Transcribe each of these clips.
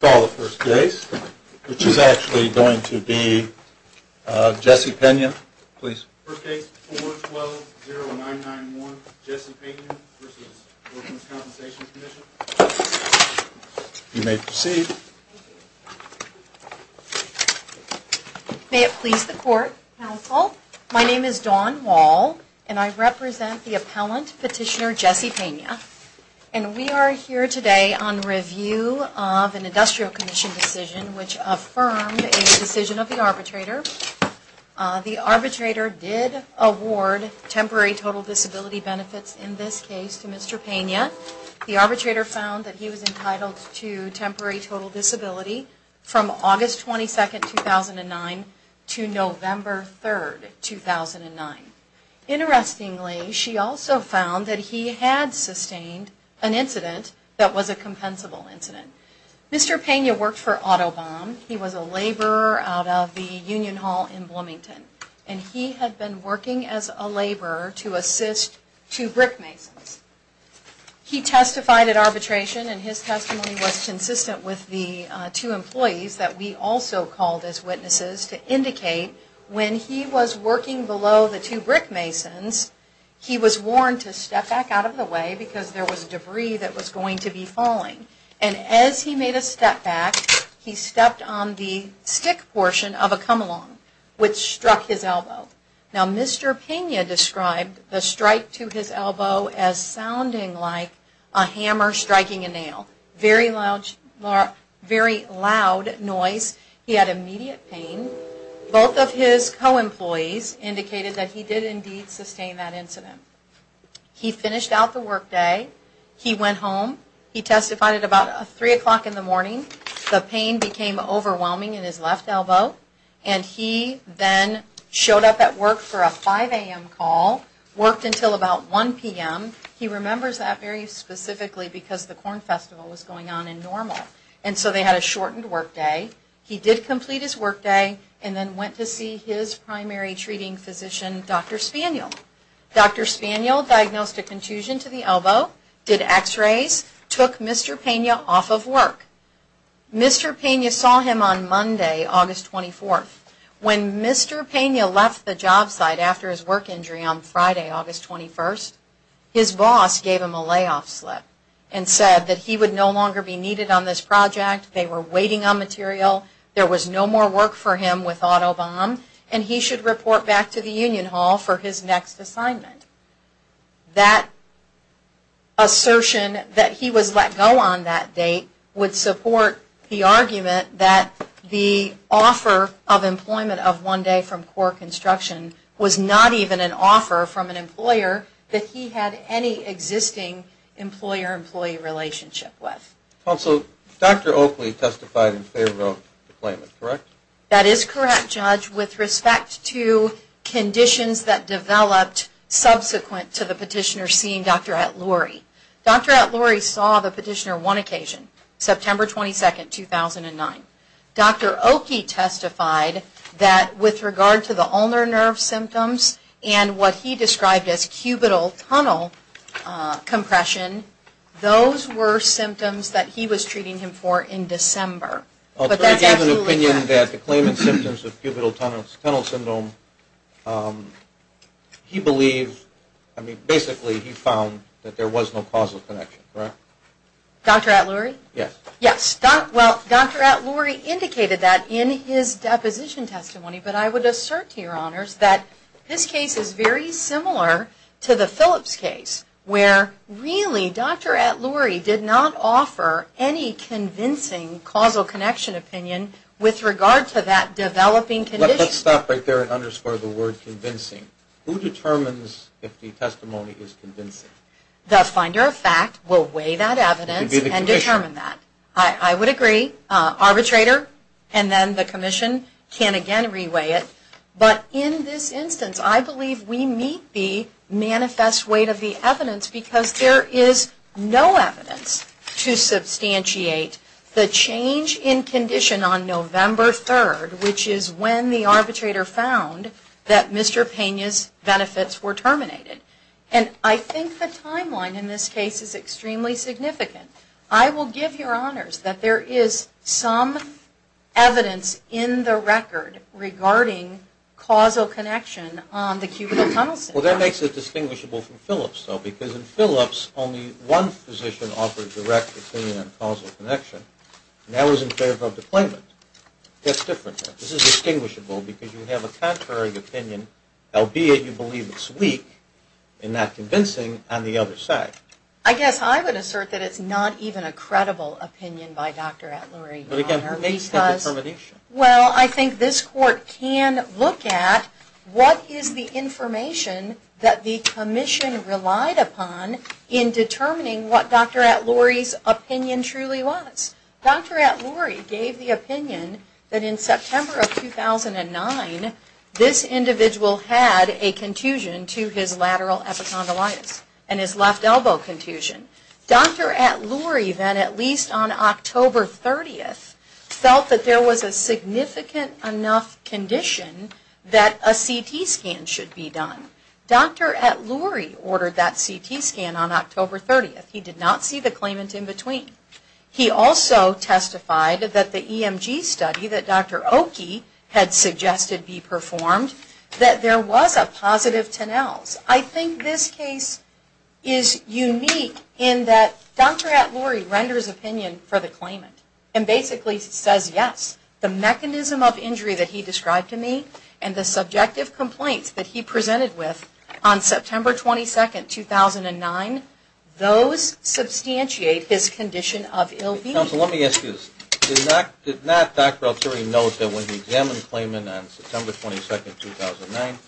May it please the Court, Counsel, my name is Dawn Wall and I represent the Appellant Petitioner Jesse Pena, and we are here today on review of an industrial commission decision which affirmed a decision of the arbitrator. The arbitrator did award temporary total disability benefits in this case to Mr. Pena. The arbitrator found that he was entitled to temporary total disability from August 22, 2009 to November 3, 2009. Interestingly, she also found that he had sustained an incident that was a compensable incident. Mr. Pena worked for Autobahn. He was a laborer out of the Union Hall in Bloomington, and he had been working as a laborer to assist two brick masons. He testified at arbitration, and his testimony was consistent with the two employees that we also called as witnesses to indicate when he was working below the two brick masons, he was warned to step back out of the way because there was debris that was going to be falling. And as he made a step back, he stepped on the stick portion of a come along, which struck his elbow. Now Mr. Pena described the strike to his elbow as sounding like a hammer striking a nail. Very loud noise. He had immediate pain. Both of his co-employees indicated that he did indeed sustain that incident. He finished out the workday. He went home. He testified at about 3 o'clock in the morning. The pain became overwhelming in his left elbow, and he then showed up at work for a 5 a.m. call, worked until about 1 p.m. He remembers that very specifically because the Corn Festival was going on in Normal, and so they had a shortened workday. He did complete his workday and then went to see his primary treating physician, Dr. Spaniel. Dr. Spaniel diagnosed a contusion to the elbow, did x-rays, took Mr. Pena off of work. Mr. Pena saw him on Monday, August 24th. When Mr. Pena left the job site after his work injury on Friday, August 21st, his boss gave him a layoff slip and said that he would no longer be needed on this project, they were waiting on material, there was no more work for him with auto bomb, and he should report back to the union hall for his next assignment. That assertion that he was let go on that date would support the argument that the offer of employment of one day from core construction was not even an offer from an employer that he had any existing employer-employee relationship with. Also, Dr. Oakley testified in favor of the claimant, correct? That is correct, Judge, with respect to conditions that developed subsequent to the petitioner seeing Dr. Atluri. Dr. Atluri saw the petitioner one occasion, September 22nd, 2009. Dr. Oakley testified that with regard to the ulnar nerve symptoms and what he described as cubital tunnel compression, those were symptoms that he was treating him for in December. I'll try to gather an opinion that the claimant's symptoms of cubital tunnel syndrome, he believed, I mean, basically he found that there was no causal connection, correct? Dr. Atluri? Yes. Well, Dr. Atluri indicated that in his deposition testimony, but I would assert to your honors that this case is very similar to the Phillips case, where really Dr. Atluri did not offer any convincing causal connection opinion with regard to that developing condition. Let's stop right there and underscore the word convincing. Who determines if the testimony is convincing? The finder of fact will weigh that evidence and determine that. It would be the commission. I would agree. Arbitrator and then the commission can again re-weigh it. But in this instance, I believe we meet the manifest weight of the evidence because there is no evidence to substantiate the change in condition on November 3rd, which is when the arbitrator found that Mr. Pena's benefits were terminated. And I think the timeline in this case is extremely significant. I will give your honors that there is some evidence in the record regarding causal connection on the cubital tunnel syndrome. Well, that makes it distinguishable from Phillips, though, because in Phillips, only one physician offered direct opinion on causal connection, and that was in favor of the claimant. That's different here. This is distinguishable because you have a contrary opinion, albeit you believe it's weak and not convincing, on the other side. I guess I would assert that it's not even a credible opinion by Dr. Atluri. But again, who makes the determination? Well, I think this court can look at what is the information that the commission relied upon in determining what Dr. Atluri's opinion truly was. Dr. Atluri gave the opinion that in September of 2009, this individual had a contusion to his lateral epicondylitis and his left elbow contusion. Dr. Atluri then, at least on October 30th, felt that there was a significant enough condition that a CT scan should be done. Dr. Atluri ordered that CT scan on October 30th. He did not see the claimant in between. He also testified that the EMG study that Dr. Oki had suggested be performed, that there was a positive tenels. I think this case is unique in that Dr. Atluri renders opinion for the claimant and basically says yes. The mechanism of injury that he described to me and the subjective complaints that he presented with on September 22nd, 2009, those substantiate his condition of ill being. Counsel, let me ask you this. Did not Dr. Atluri note that when he examined the claimant on September 22nd, 2009, the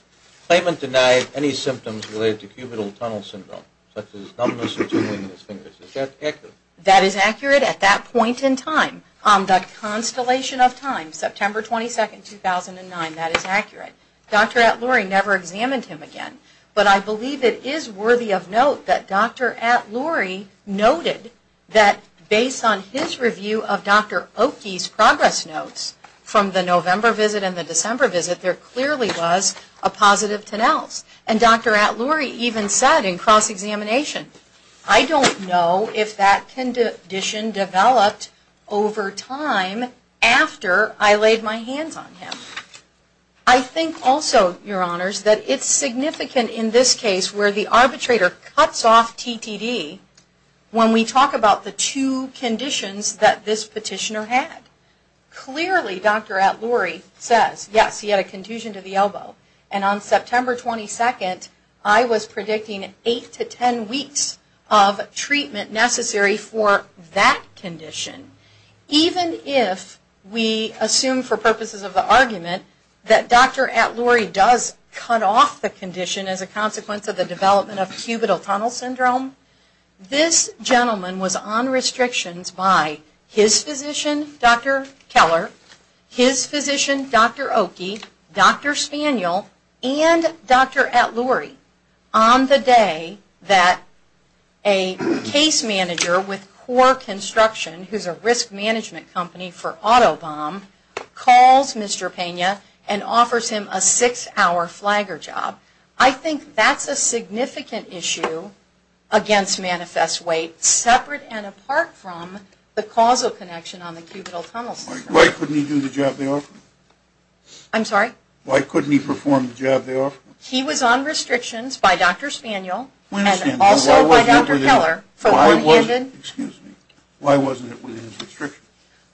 claimant denied any symptoms related to cubital tunnel syndrome, such as numbness or tingling in his fingers? Is that accurate? At that point in time, on the constellation of time, September 22nd, 2009, that is accurate. Dr. Atluri never examined him again, but I believe it is worthy of note that Dr. Atluri noted that based on his review of Dr. Oki's progress notes from the November visit and the December visit, there clearly was a positive tenels. And Dr. Atluri even said in cross-examination, I don't know if that condition developed over time after I laid my hands on him. I think also, your honors, that it's significant in this case where the arbitrator cuts off TTD when we talk about the two conditions that this petitioner had. Clearly, Dr. Atluri says, yes, he had a contusion to the elbow. And on September 22nd, I was predicting eight to ten weeks of treatment necessary for that condition. Even if we assume for purposes of the argument that Dr. Atluri does cut off the condition as a consequence of the development of cubital tunnel syndrome, this gentleman was on restrictions by his physician, Dr. Keller, his physician, Dr. Oki, Dr. Spaniel, and Dr. Atluri. On the day that a case manager with CORE Construction, who's a risk management company for Autobomb, calls Mr. Pena and offers him a six-hour flagger job. I think that's a significant issue against manifest weight, separate and apart from the causal connection on the cubital tunnel syndrome. Why couldn't he do the job they offered? I'm sorry? Why couldn't he perform the job they offered? He was on restrictions by Dr. Spaniel and also by Dr. Keller. Why wasn't it within his restrictions?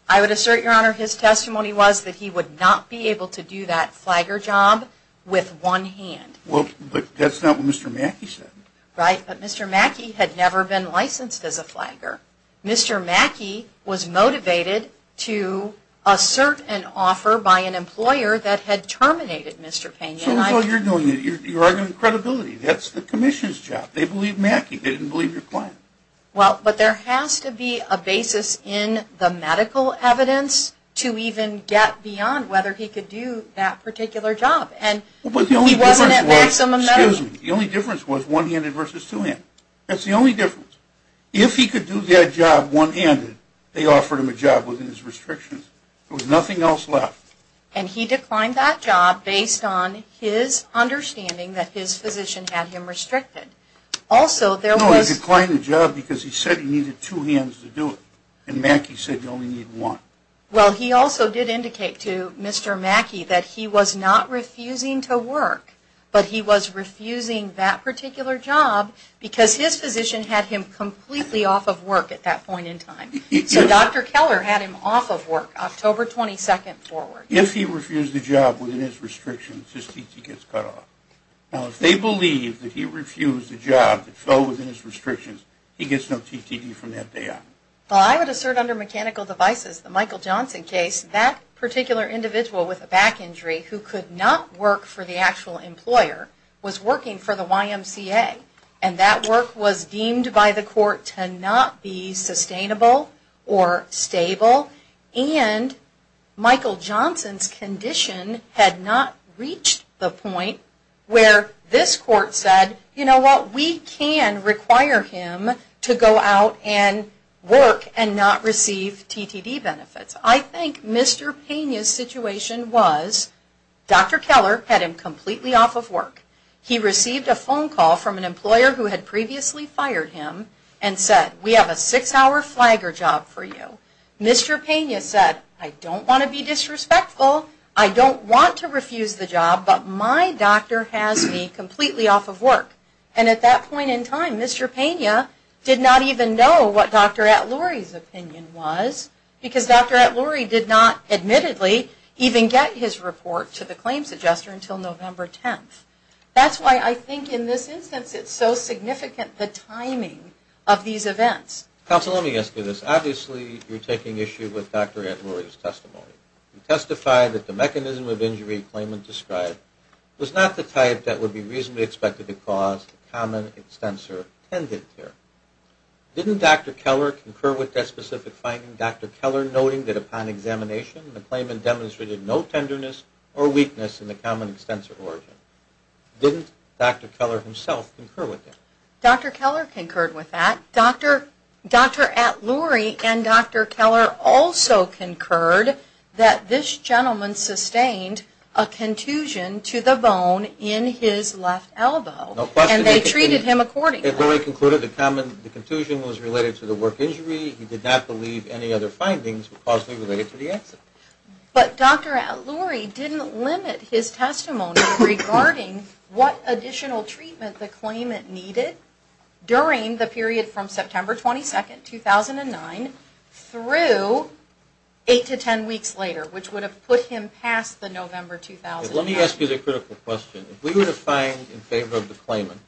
I would assert, Your Honor, his testimony was that he would not be able to do that flagger job with one hand. Well, but that's not what Mr. Mackey said. Right, but Mr. Mackey had never been licensed as a flagger. Mr. Mackey was motivated to assert an offer by an employer that had terminated Mr. Pena. So that's all you're doing. You're arguing credibility. That's the commission's job. They believe Mackey. They didn't believe your client. Well, but there has to be a basis in the medical evidence to even get beyond whether he could do that particular job. But the only difference was one-handed versus two-handed. That's the only difference. If he could do that job one-handed, they offered him a job within his restrictions. There was nothing else left. And he declined that job based on his understanding that his physician had him restricted. Also, there was... No, he declined the job because he said he needed two hands to do it. And Mackey said you only need one. Well, he also did indicate to Mr. Mackey that he was not refusing to work, but he was refusing that particular job because his physician had him completely off of work at that point in time. So Dr. Keller had him off of work October 22nd forward. If he refused the job within his restrictions, his T.T. gets cut off. Now, if they believe that he refused the job that fell within his restrictions, he gets no T.T.D. from that day on. Well, I would assert under mechanical devices, the Michael Johnson case, that particular individual with a back injury who could not work for the actual employer was working for the YMCA. And that work was deemed by the court to not be sustainable or stable. And Michael Johnson's condition had not reached the point where this court said, you know what, we can require him to go out and work and not receive T.T.D. benefits. I think Mr. Pena's situation was Dr. Keller had him completely off of work. He received a phone call from an employer who had previously fired him and said, we have a six-hour flagger job for you. Mr. Pena said, I don't want to be disrespectful. I don't want to refuse the job, but my doctor has me completely off of work. And at that point in time, Mr. Pena did not even know what Dr. Atluri's opinion was because Dr. Atluri did not admittedly even get his report to the claims adjuster until November 10th. That's why I think in this instance it's so significant the timing of these events. Counsel, let me ask you this. Obviously you're taking issue with Dr. Atluri's testimony. You testified that the mechanism of injury claimant described was not the type that would be reasonably expected to cause common extensor tendon tear. Didn't Dr. Keller concur with that specific finding, Dr. Keller noting that upon examination, the claimant demonstrated no tenderness or weakness in the common extensor origin? Didn't Dr. Keller himself concur with that? Dr. Keller concurred with that. Dr. Atluri and Dr. Keller also concurred that this gentleman sustained a contusion to the bone in his left elbow. And they treated him accordingly. Dr. Atluri concluded the contusion was related to the work injury. He did not believe any other findings were causally related to the accident. But Dr. Atluri didn't limit his testimony regarding what additional treatment the claimant needed during the period from September 22nd, 2009 through 8 to 10 weeks later, which would have put him past the November 2009. Let me ask you the critical question. If we were to find in favor of the claimant,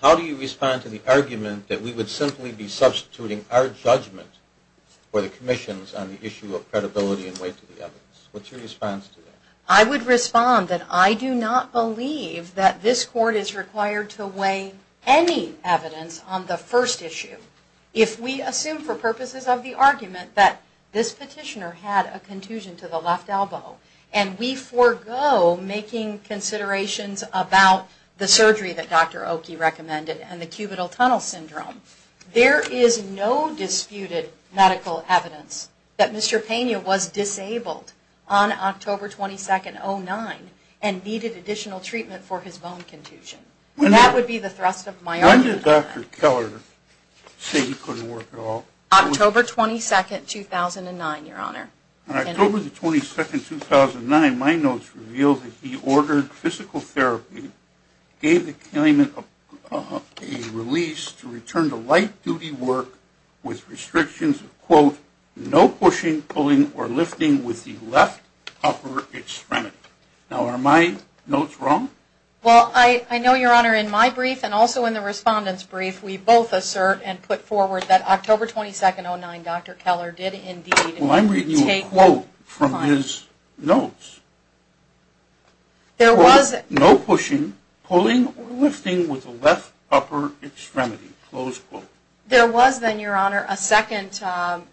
how do you respond to the argument that we would simply be substituting our judgment for the commission's on the issue of credibility and weight to the evidence? What's your response to that? I would respond that I do not believe that this court is required to weigh any evidence on the first issue. If we assume for purposes of the argument that this petitioner had a contusion to the left elbow and we forego making considerations about the surgery that Dr. Oki recommended and the cubital tunnel syndrome, there is no disputed medical evidence that Mr. Pena was disabled on October 22nd, 2009 and needed additional treatment for his bone contusion. And that would be the thrust of my argument on that. When did Dr. Keller say he couldn't work at all? October 22nd, 2009, Your Honor. On October 22nd, 2009, my notes reveal that he ordered physical therapy, gave the claimant a release to return to light-duty work with restrictions of, quote, no pushing, pulling, or lifting with the left upper extremity. Now, are my notes wrong? Well, I know, Your Honor, in my brief and also in the respondent's brief, we both assert and put forward that October 22nd, 2009, Dr. Keller did indeed Well, I'm reading you a quote from his notes. Quote, no pushing, pulling, or lifting with the left upper extremity, close quote. There was then, Your Honor, a second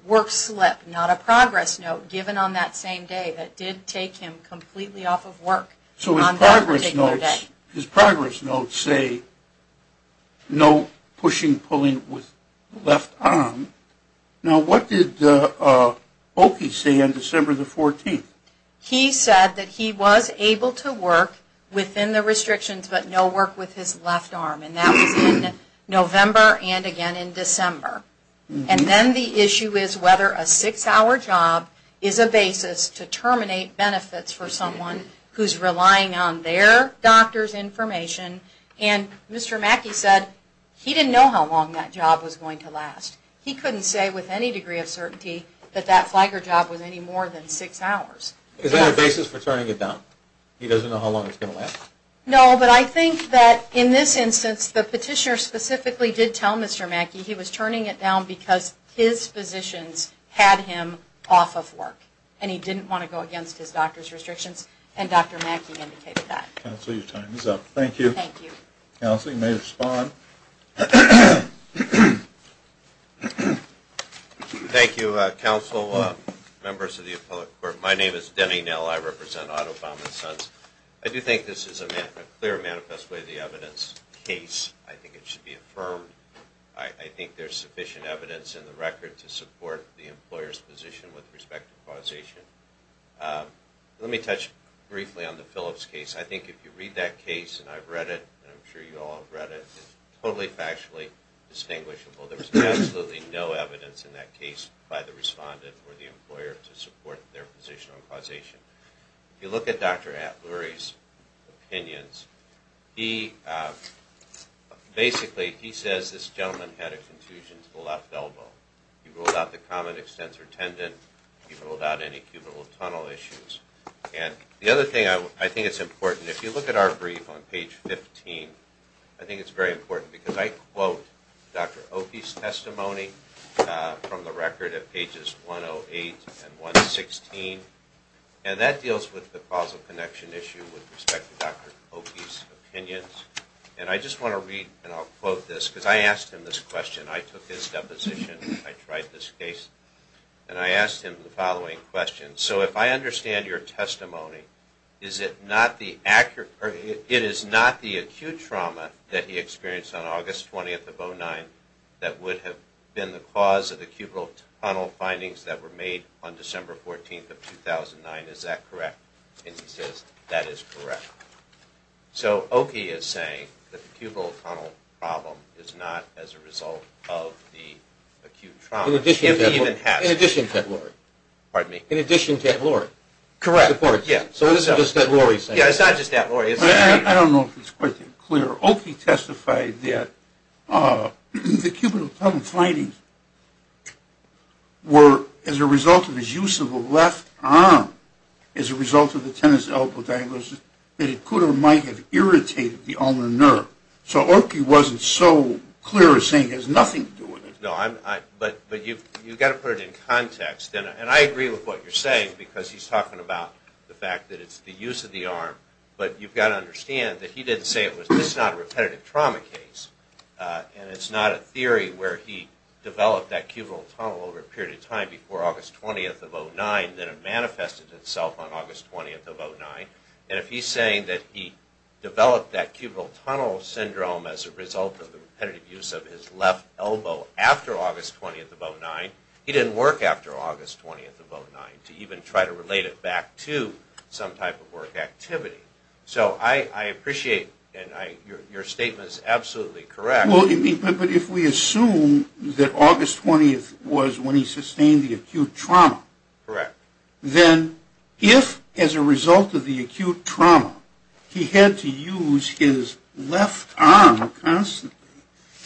work slip, not a progress note, given on that same day that did take him completely off of work on that particular day. So his progress notes say no pushing, pulling with the left arm. Now, what did Oakey say on December the 14th? He said that he was able to work within the restrictions but no work with his left arm, and that was in November and again in December. And then the issue is whether a six-hour job is a basis to terminate benefits for someone who's relying on their doctor's information. And Mr. Mackey said he didn't know how long that job was going to last. He couldn't say with any degree of certainty that that flagger job was any more than six hours. Is that a basis for turning it down? He doesn't know how long it's going to last? No, but I think that in this instance, the petitioner specifically did tell Mr. Mackey he was turning it down because his physicians had him off of work, and he didn't want to go against his doctor's restrictions, and Dr. Mackey indicated that. Counsel, your time is up. Thank you. Counsel, you may respond. Thank you, counsel, members of the appellate court. My name is Denny Nell. I represent Otto Baum and Sons. I do think this is a clear manifest way of the evidence case. I think it should be affirmed. I think there's sufficient evidence in the record to support the employer's position with respect to causation. Let me touch briefly on the Phillips case. I think if you read that case, and I've read it, and I'm sure you all have read it, it's totally factually distinguishable. There's absolutely no evidence in that case by the respondent or the employer to support their position on causation. If you look at Dr. Atluri's opinions, he basically says this gentleman had a contusion to the left elbow. He ruled out the common extensor tendon. He ruled out any cubital tunnel issues. The other thing I think is important, if you look at our brief on page 15, I think it's very important because I quote Dr. Oki's testimony from the record at pages 108 and 116. That deals with the causal connection issue with respect to Dr. Oki's opinions. I just want to read, and I'll quote this, because I asked him this question. I took his deposition. I tried this case. I asked him the following question. If I understand your testimony, it is not the acute trauma that he experienced on August 20th of 2009 that would have been the cause of the cubital tunnel findings that were made on December 14th of 2009. Is that correct? He says that is correct. Oki is saying that the cubital tunnel problem is not as a result of the acute trauma. In addition to that, Laurie. In addition to that, Laurie. Correct. So it's not just that, Laurie. Yeah, it's not just that, Laurie. I don't know if it's quite that clear. Oki testified that the cubital tunnel findings were as a result of his use of the left arm as a result of the tendon's elbow diagnosis that it could or might have irritated the ulnar nerve. So Oki wasn't so clear as saying it has nothing to do with it. No, but you've got to put it in context. And I agree with what you're saying because he's talking about the fact that it's the use of the arm. But you've got to understand that he didn't say it was just not a repetitive trauma case. And it's not a theory where he developed that cubital tunnel over a period of time before August 20th of 2009 that it manifested itself on August 20th of 2009. And if he's saying that he developed that cubital tunnel syndrome as a result of the repetitive use of his left elbow after August 20th of 2009, he didn't work after August 20th of 2009 to even try to relate it back to some type of work activity. So I appreciate your statement is absolutely correct. But if we assume that August 20th was when he sustained the acute trauma, then if as a result of the acute trauma he had to use his left arm constantly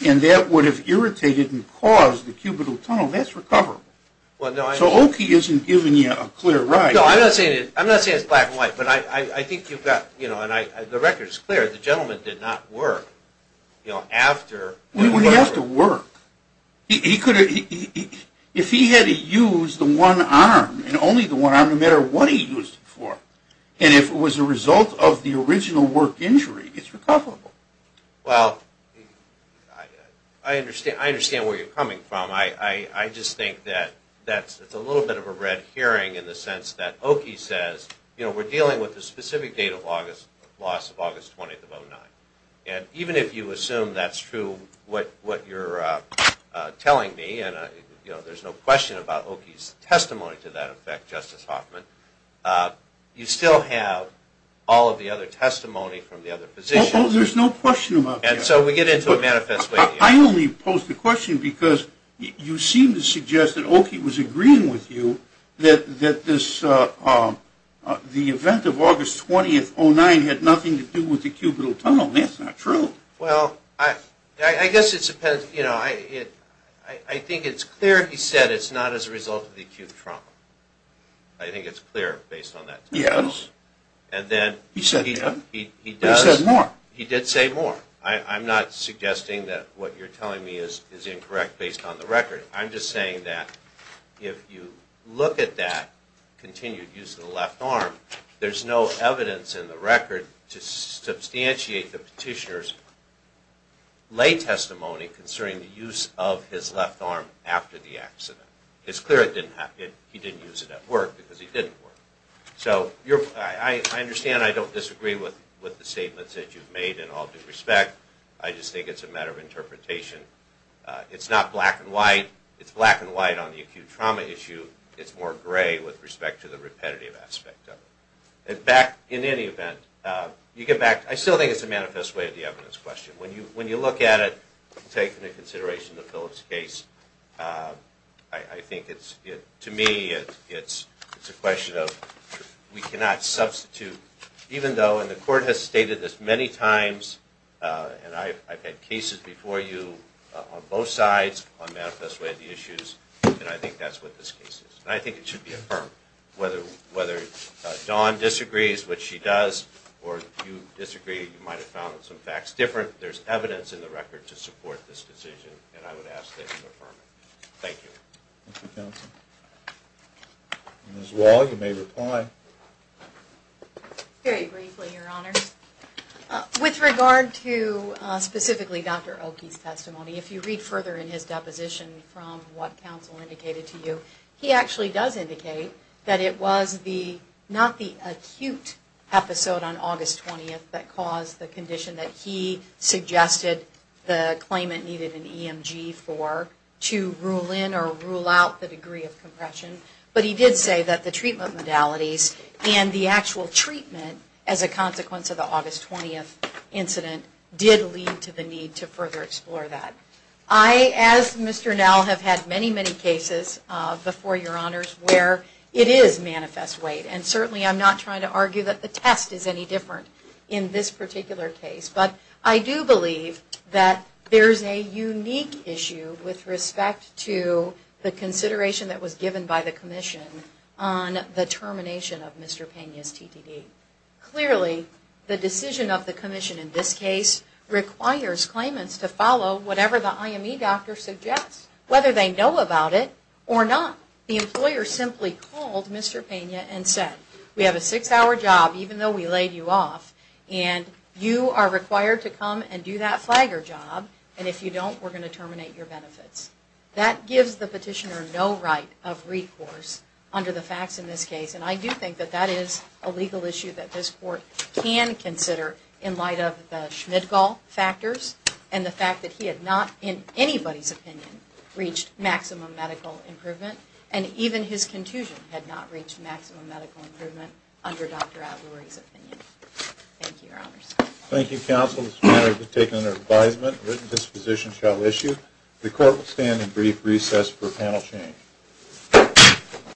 and that would have irritated and caused the cubital tunnel, that's recoverable. So Okie isn't giving you a clear right. No, I'm not saying it's black and white, but I think you've got, you know, and the record is clear, the gentleman did not work, you know, after. He wouldn't have to work. If he had to use the one arm and only the one arm no matter what he used it for, and if it was a result of the original work injury, it's recoverable. Well, I understand where you're coming from. I just think that that's a little bit of a red herring in the sense that Okie says, you know, we're dealing with a specific date of loss of August 20th of 2009. And even if you assume that's true what you're telling me, and, you know, there's no question about Okie's testimony to that effect, Justice Hoffman, you still have all of the other testimony from the other positions. Oh, there's no question about that. And so we get into a manifesto. I only pose the question because you seem to suggest that Okie was agreeing with you that this, the event of August 20th, 2009, had nothing to do with the cubital tunnel. That's not true. Well, I guess it's, you know, I think it's clear he said it's not as a result of the acute trauma. I think it's clear based on that. Yes. And then he does. He said more. He did say more. I'm not suggesting that what you're telling me is incorrect based on the record. I'm just saying that if you look at that continued use of the left arm, there's no evidence in the record to substantiate the petitioner's lay testimony concerning the use of his left arm after the accident. It's clear he didn't use it at work because he didn't work. So I understand I don't disagree with the statements that you've made in all due respect. I just think it's a matter of interpretation. It's not black and white. It's black and white on the acute trauma issue. It's more gray with respect to the repetitive aspect of it. In any event, you get back. I still think it's a manifest way of the evidence question. When you look at it, taking into consideration the Phillips case, I think to me it's a question of we cannot substitute. Even though, and the court has stated this many times, and I've had cases before you on both sides on manifest way of the issues, and I think that's what this case is. And I think it should be affirmed. Whether Dawn disagrees, which she does, or you disagree, you might have found some facts different, there's evidence in the record to support this decision, and I would ask that you affirm it. Thank you. Thank you, counsel. Ms. Wall, you may reply. Very briefly, Your Honor. With regard to specifically Dr. Oki's testimony, if you read further in his deposition from what counsel indicated to you, he actually does indicate that it was not the acute episode on August 20th that caused the condition that he suggested the claimant needed an EMG for to rule in or rule out the degree of compression. But he did say that the treatment modalities and the actual treatment as a consequence of the August 20th incident did lead to the need to further explore that. I, as Mr. Nell, have had many, many cases before Your Honors where it is manifest weight. And certainly I'm not trying to argue that the test is any different in this particular case. But I do believe that there's a unique issue with respect to the consideration that was given by the commission on the termination of Mr. Pena's TDD. Clearly, the decision of the commission in this case requires claimants to follow whatever the IME doctor suggests, whether they know about it or not. The employer simply called Mr. Pena and said, we have a six-hour job, even though we laid you off, and you are required to come and do that flagger job. And if you don't, we're going to terminate your benefits. That gives the petitioner no right of recourse under the facts in this case. And I do think that that is a legal issue that this court can consider in light of the Schmidgall factors and the fact that he had not, in anybody's opinion, reached maximum medical improvement, and even his contusion had not reached maximum medical improvement under Dr. Avallori's opinion. Thank you, Your Honors. Thank you, counsel. This matter has been taken under advisement. Written disposition shall issue. The court will stand in brief recess for panel change.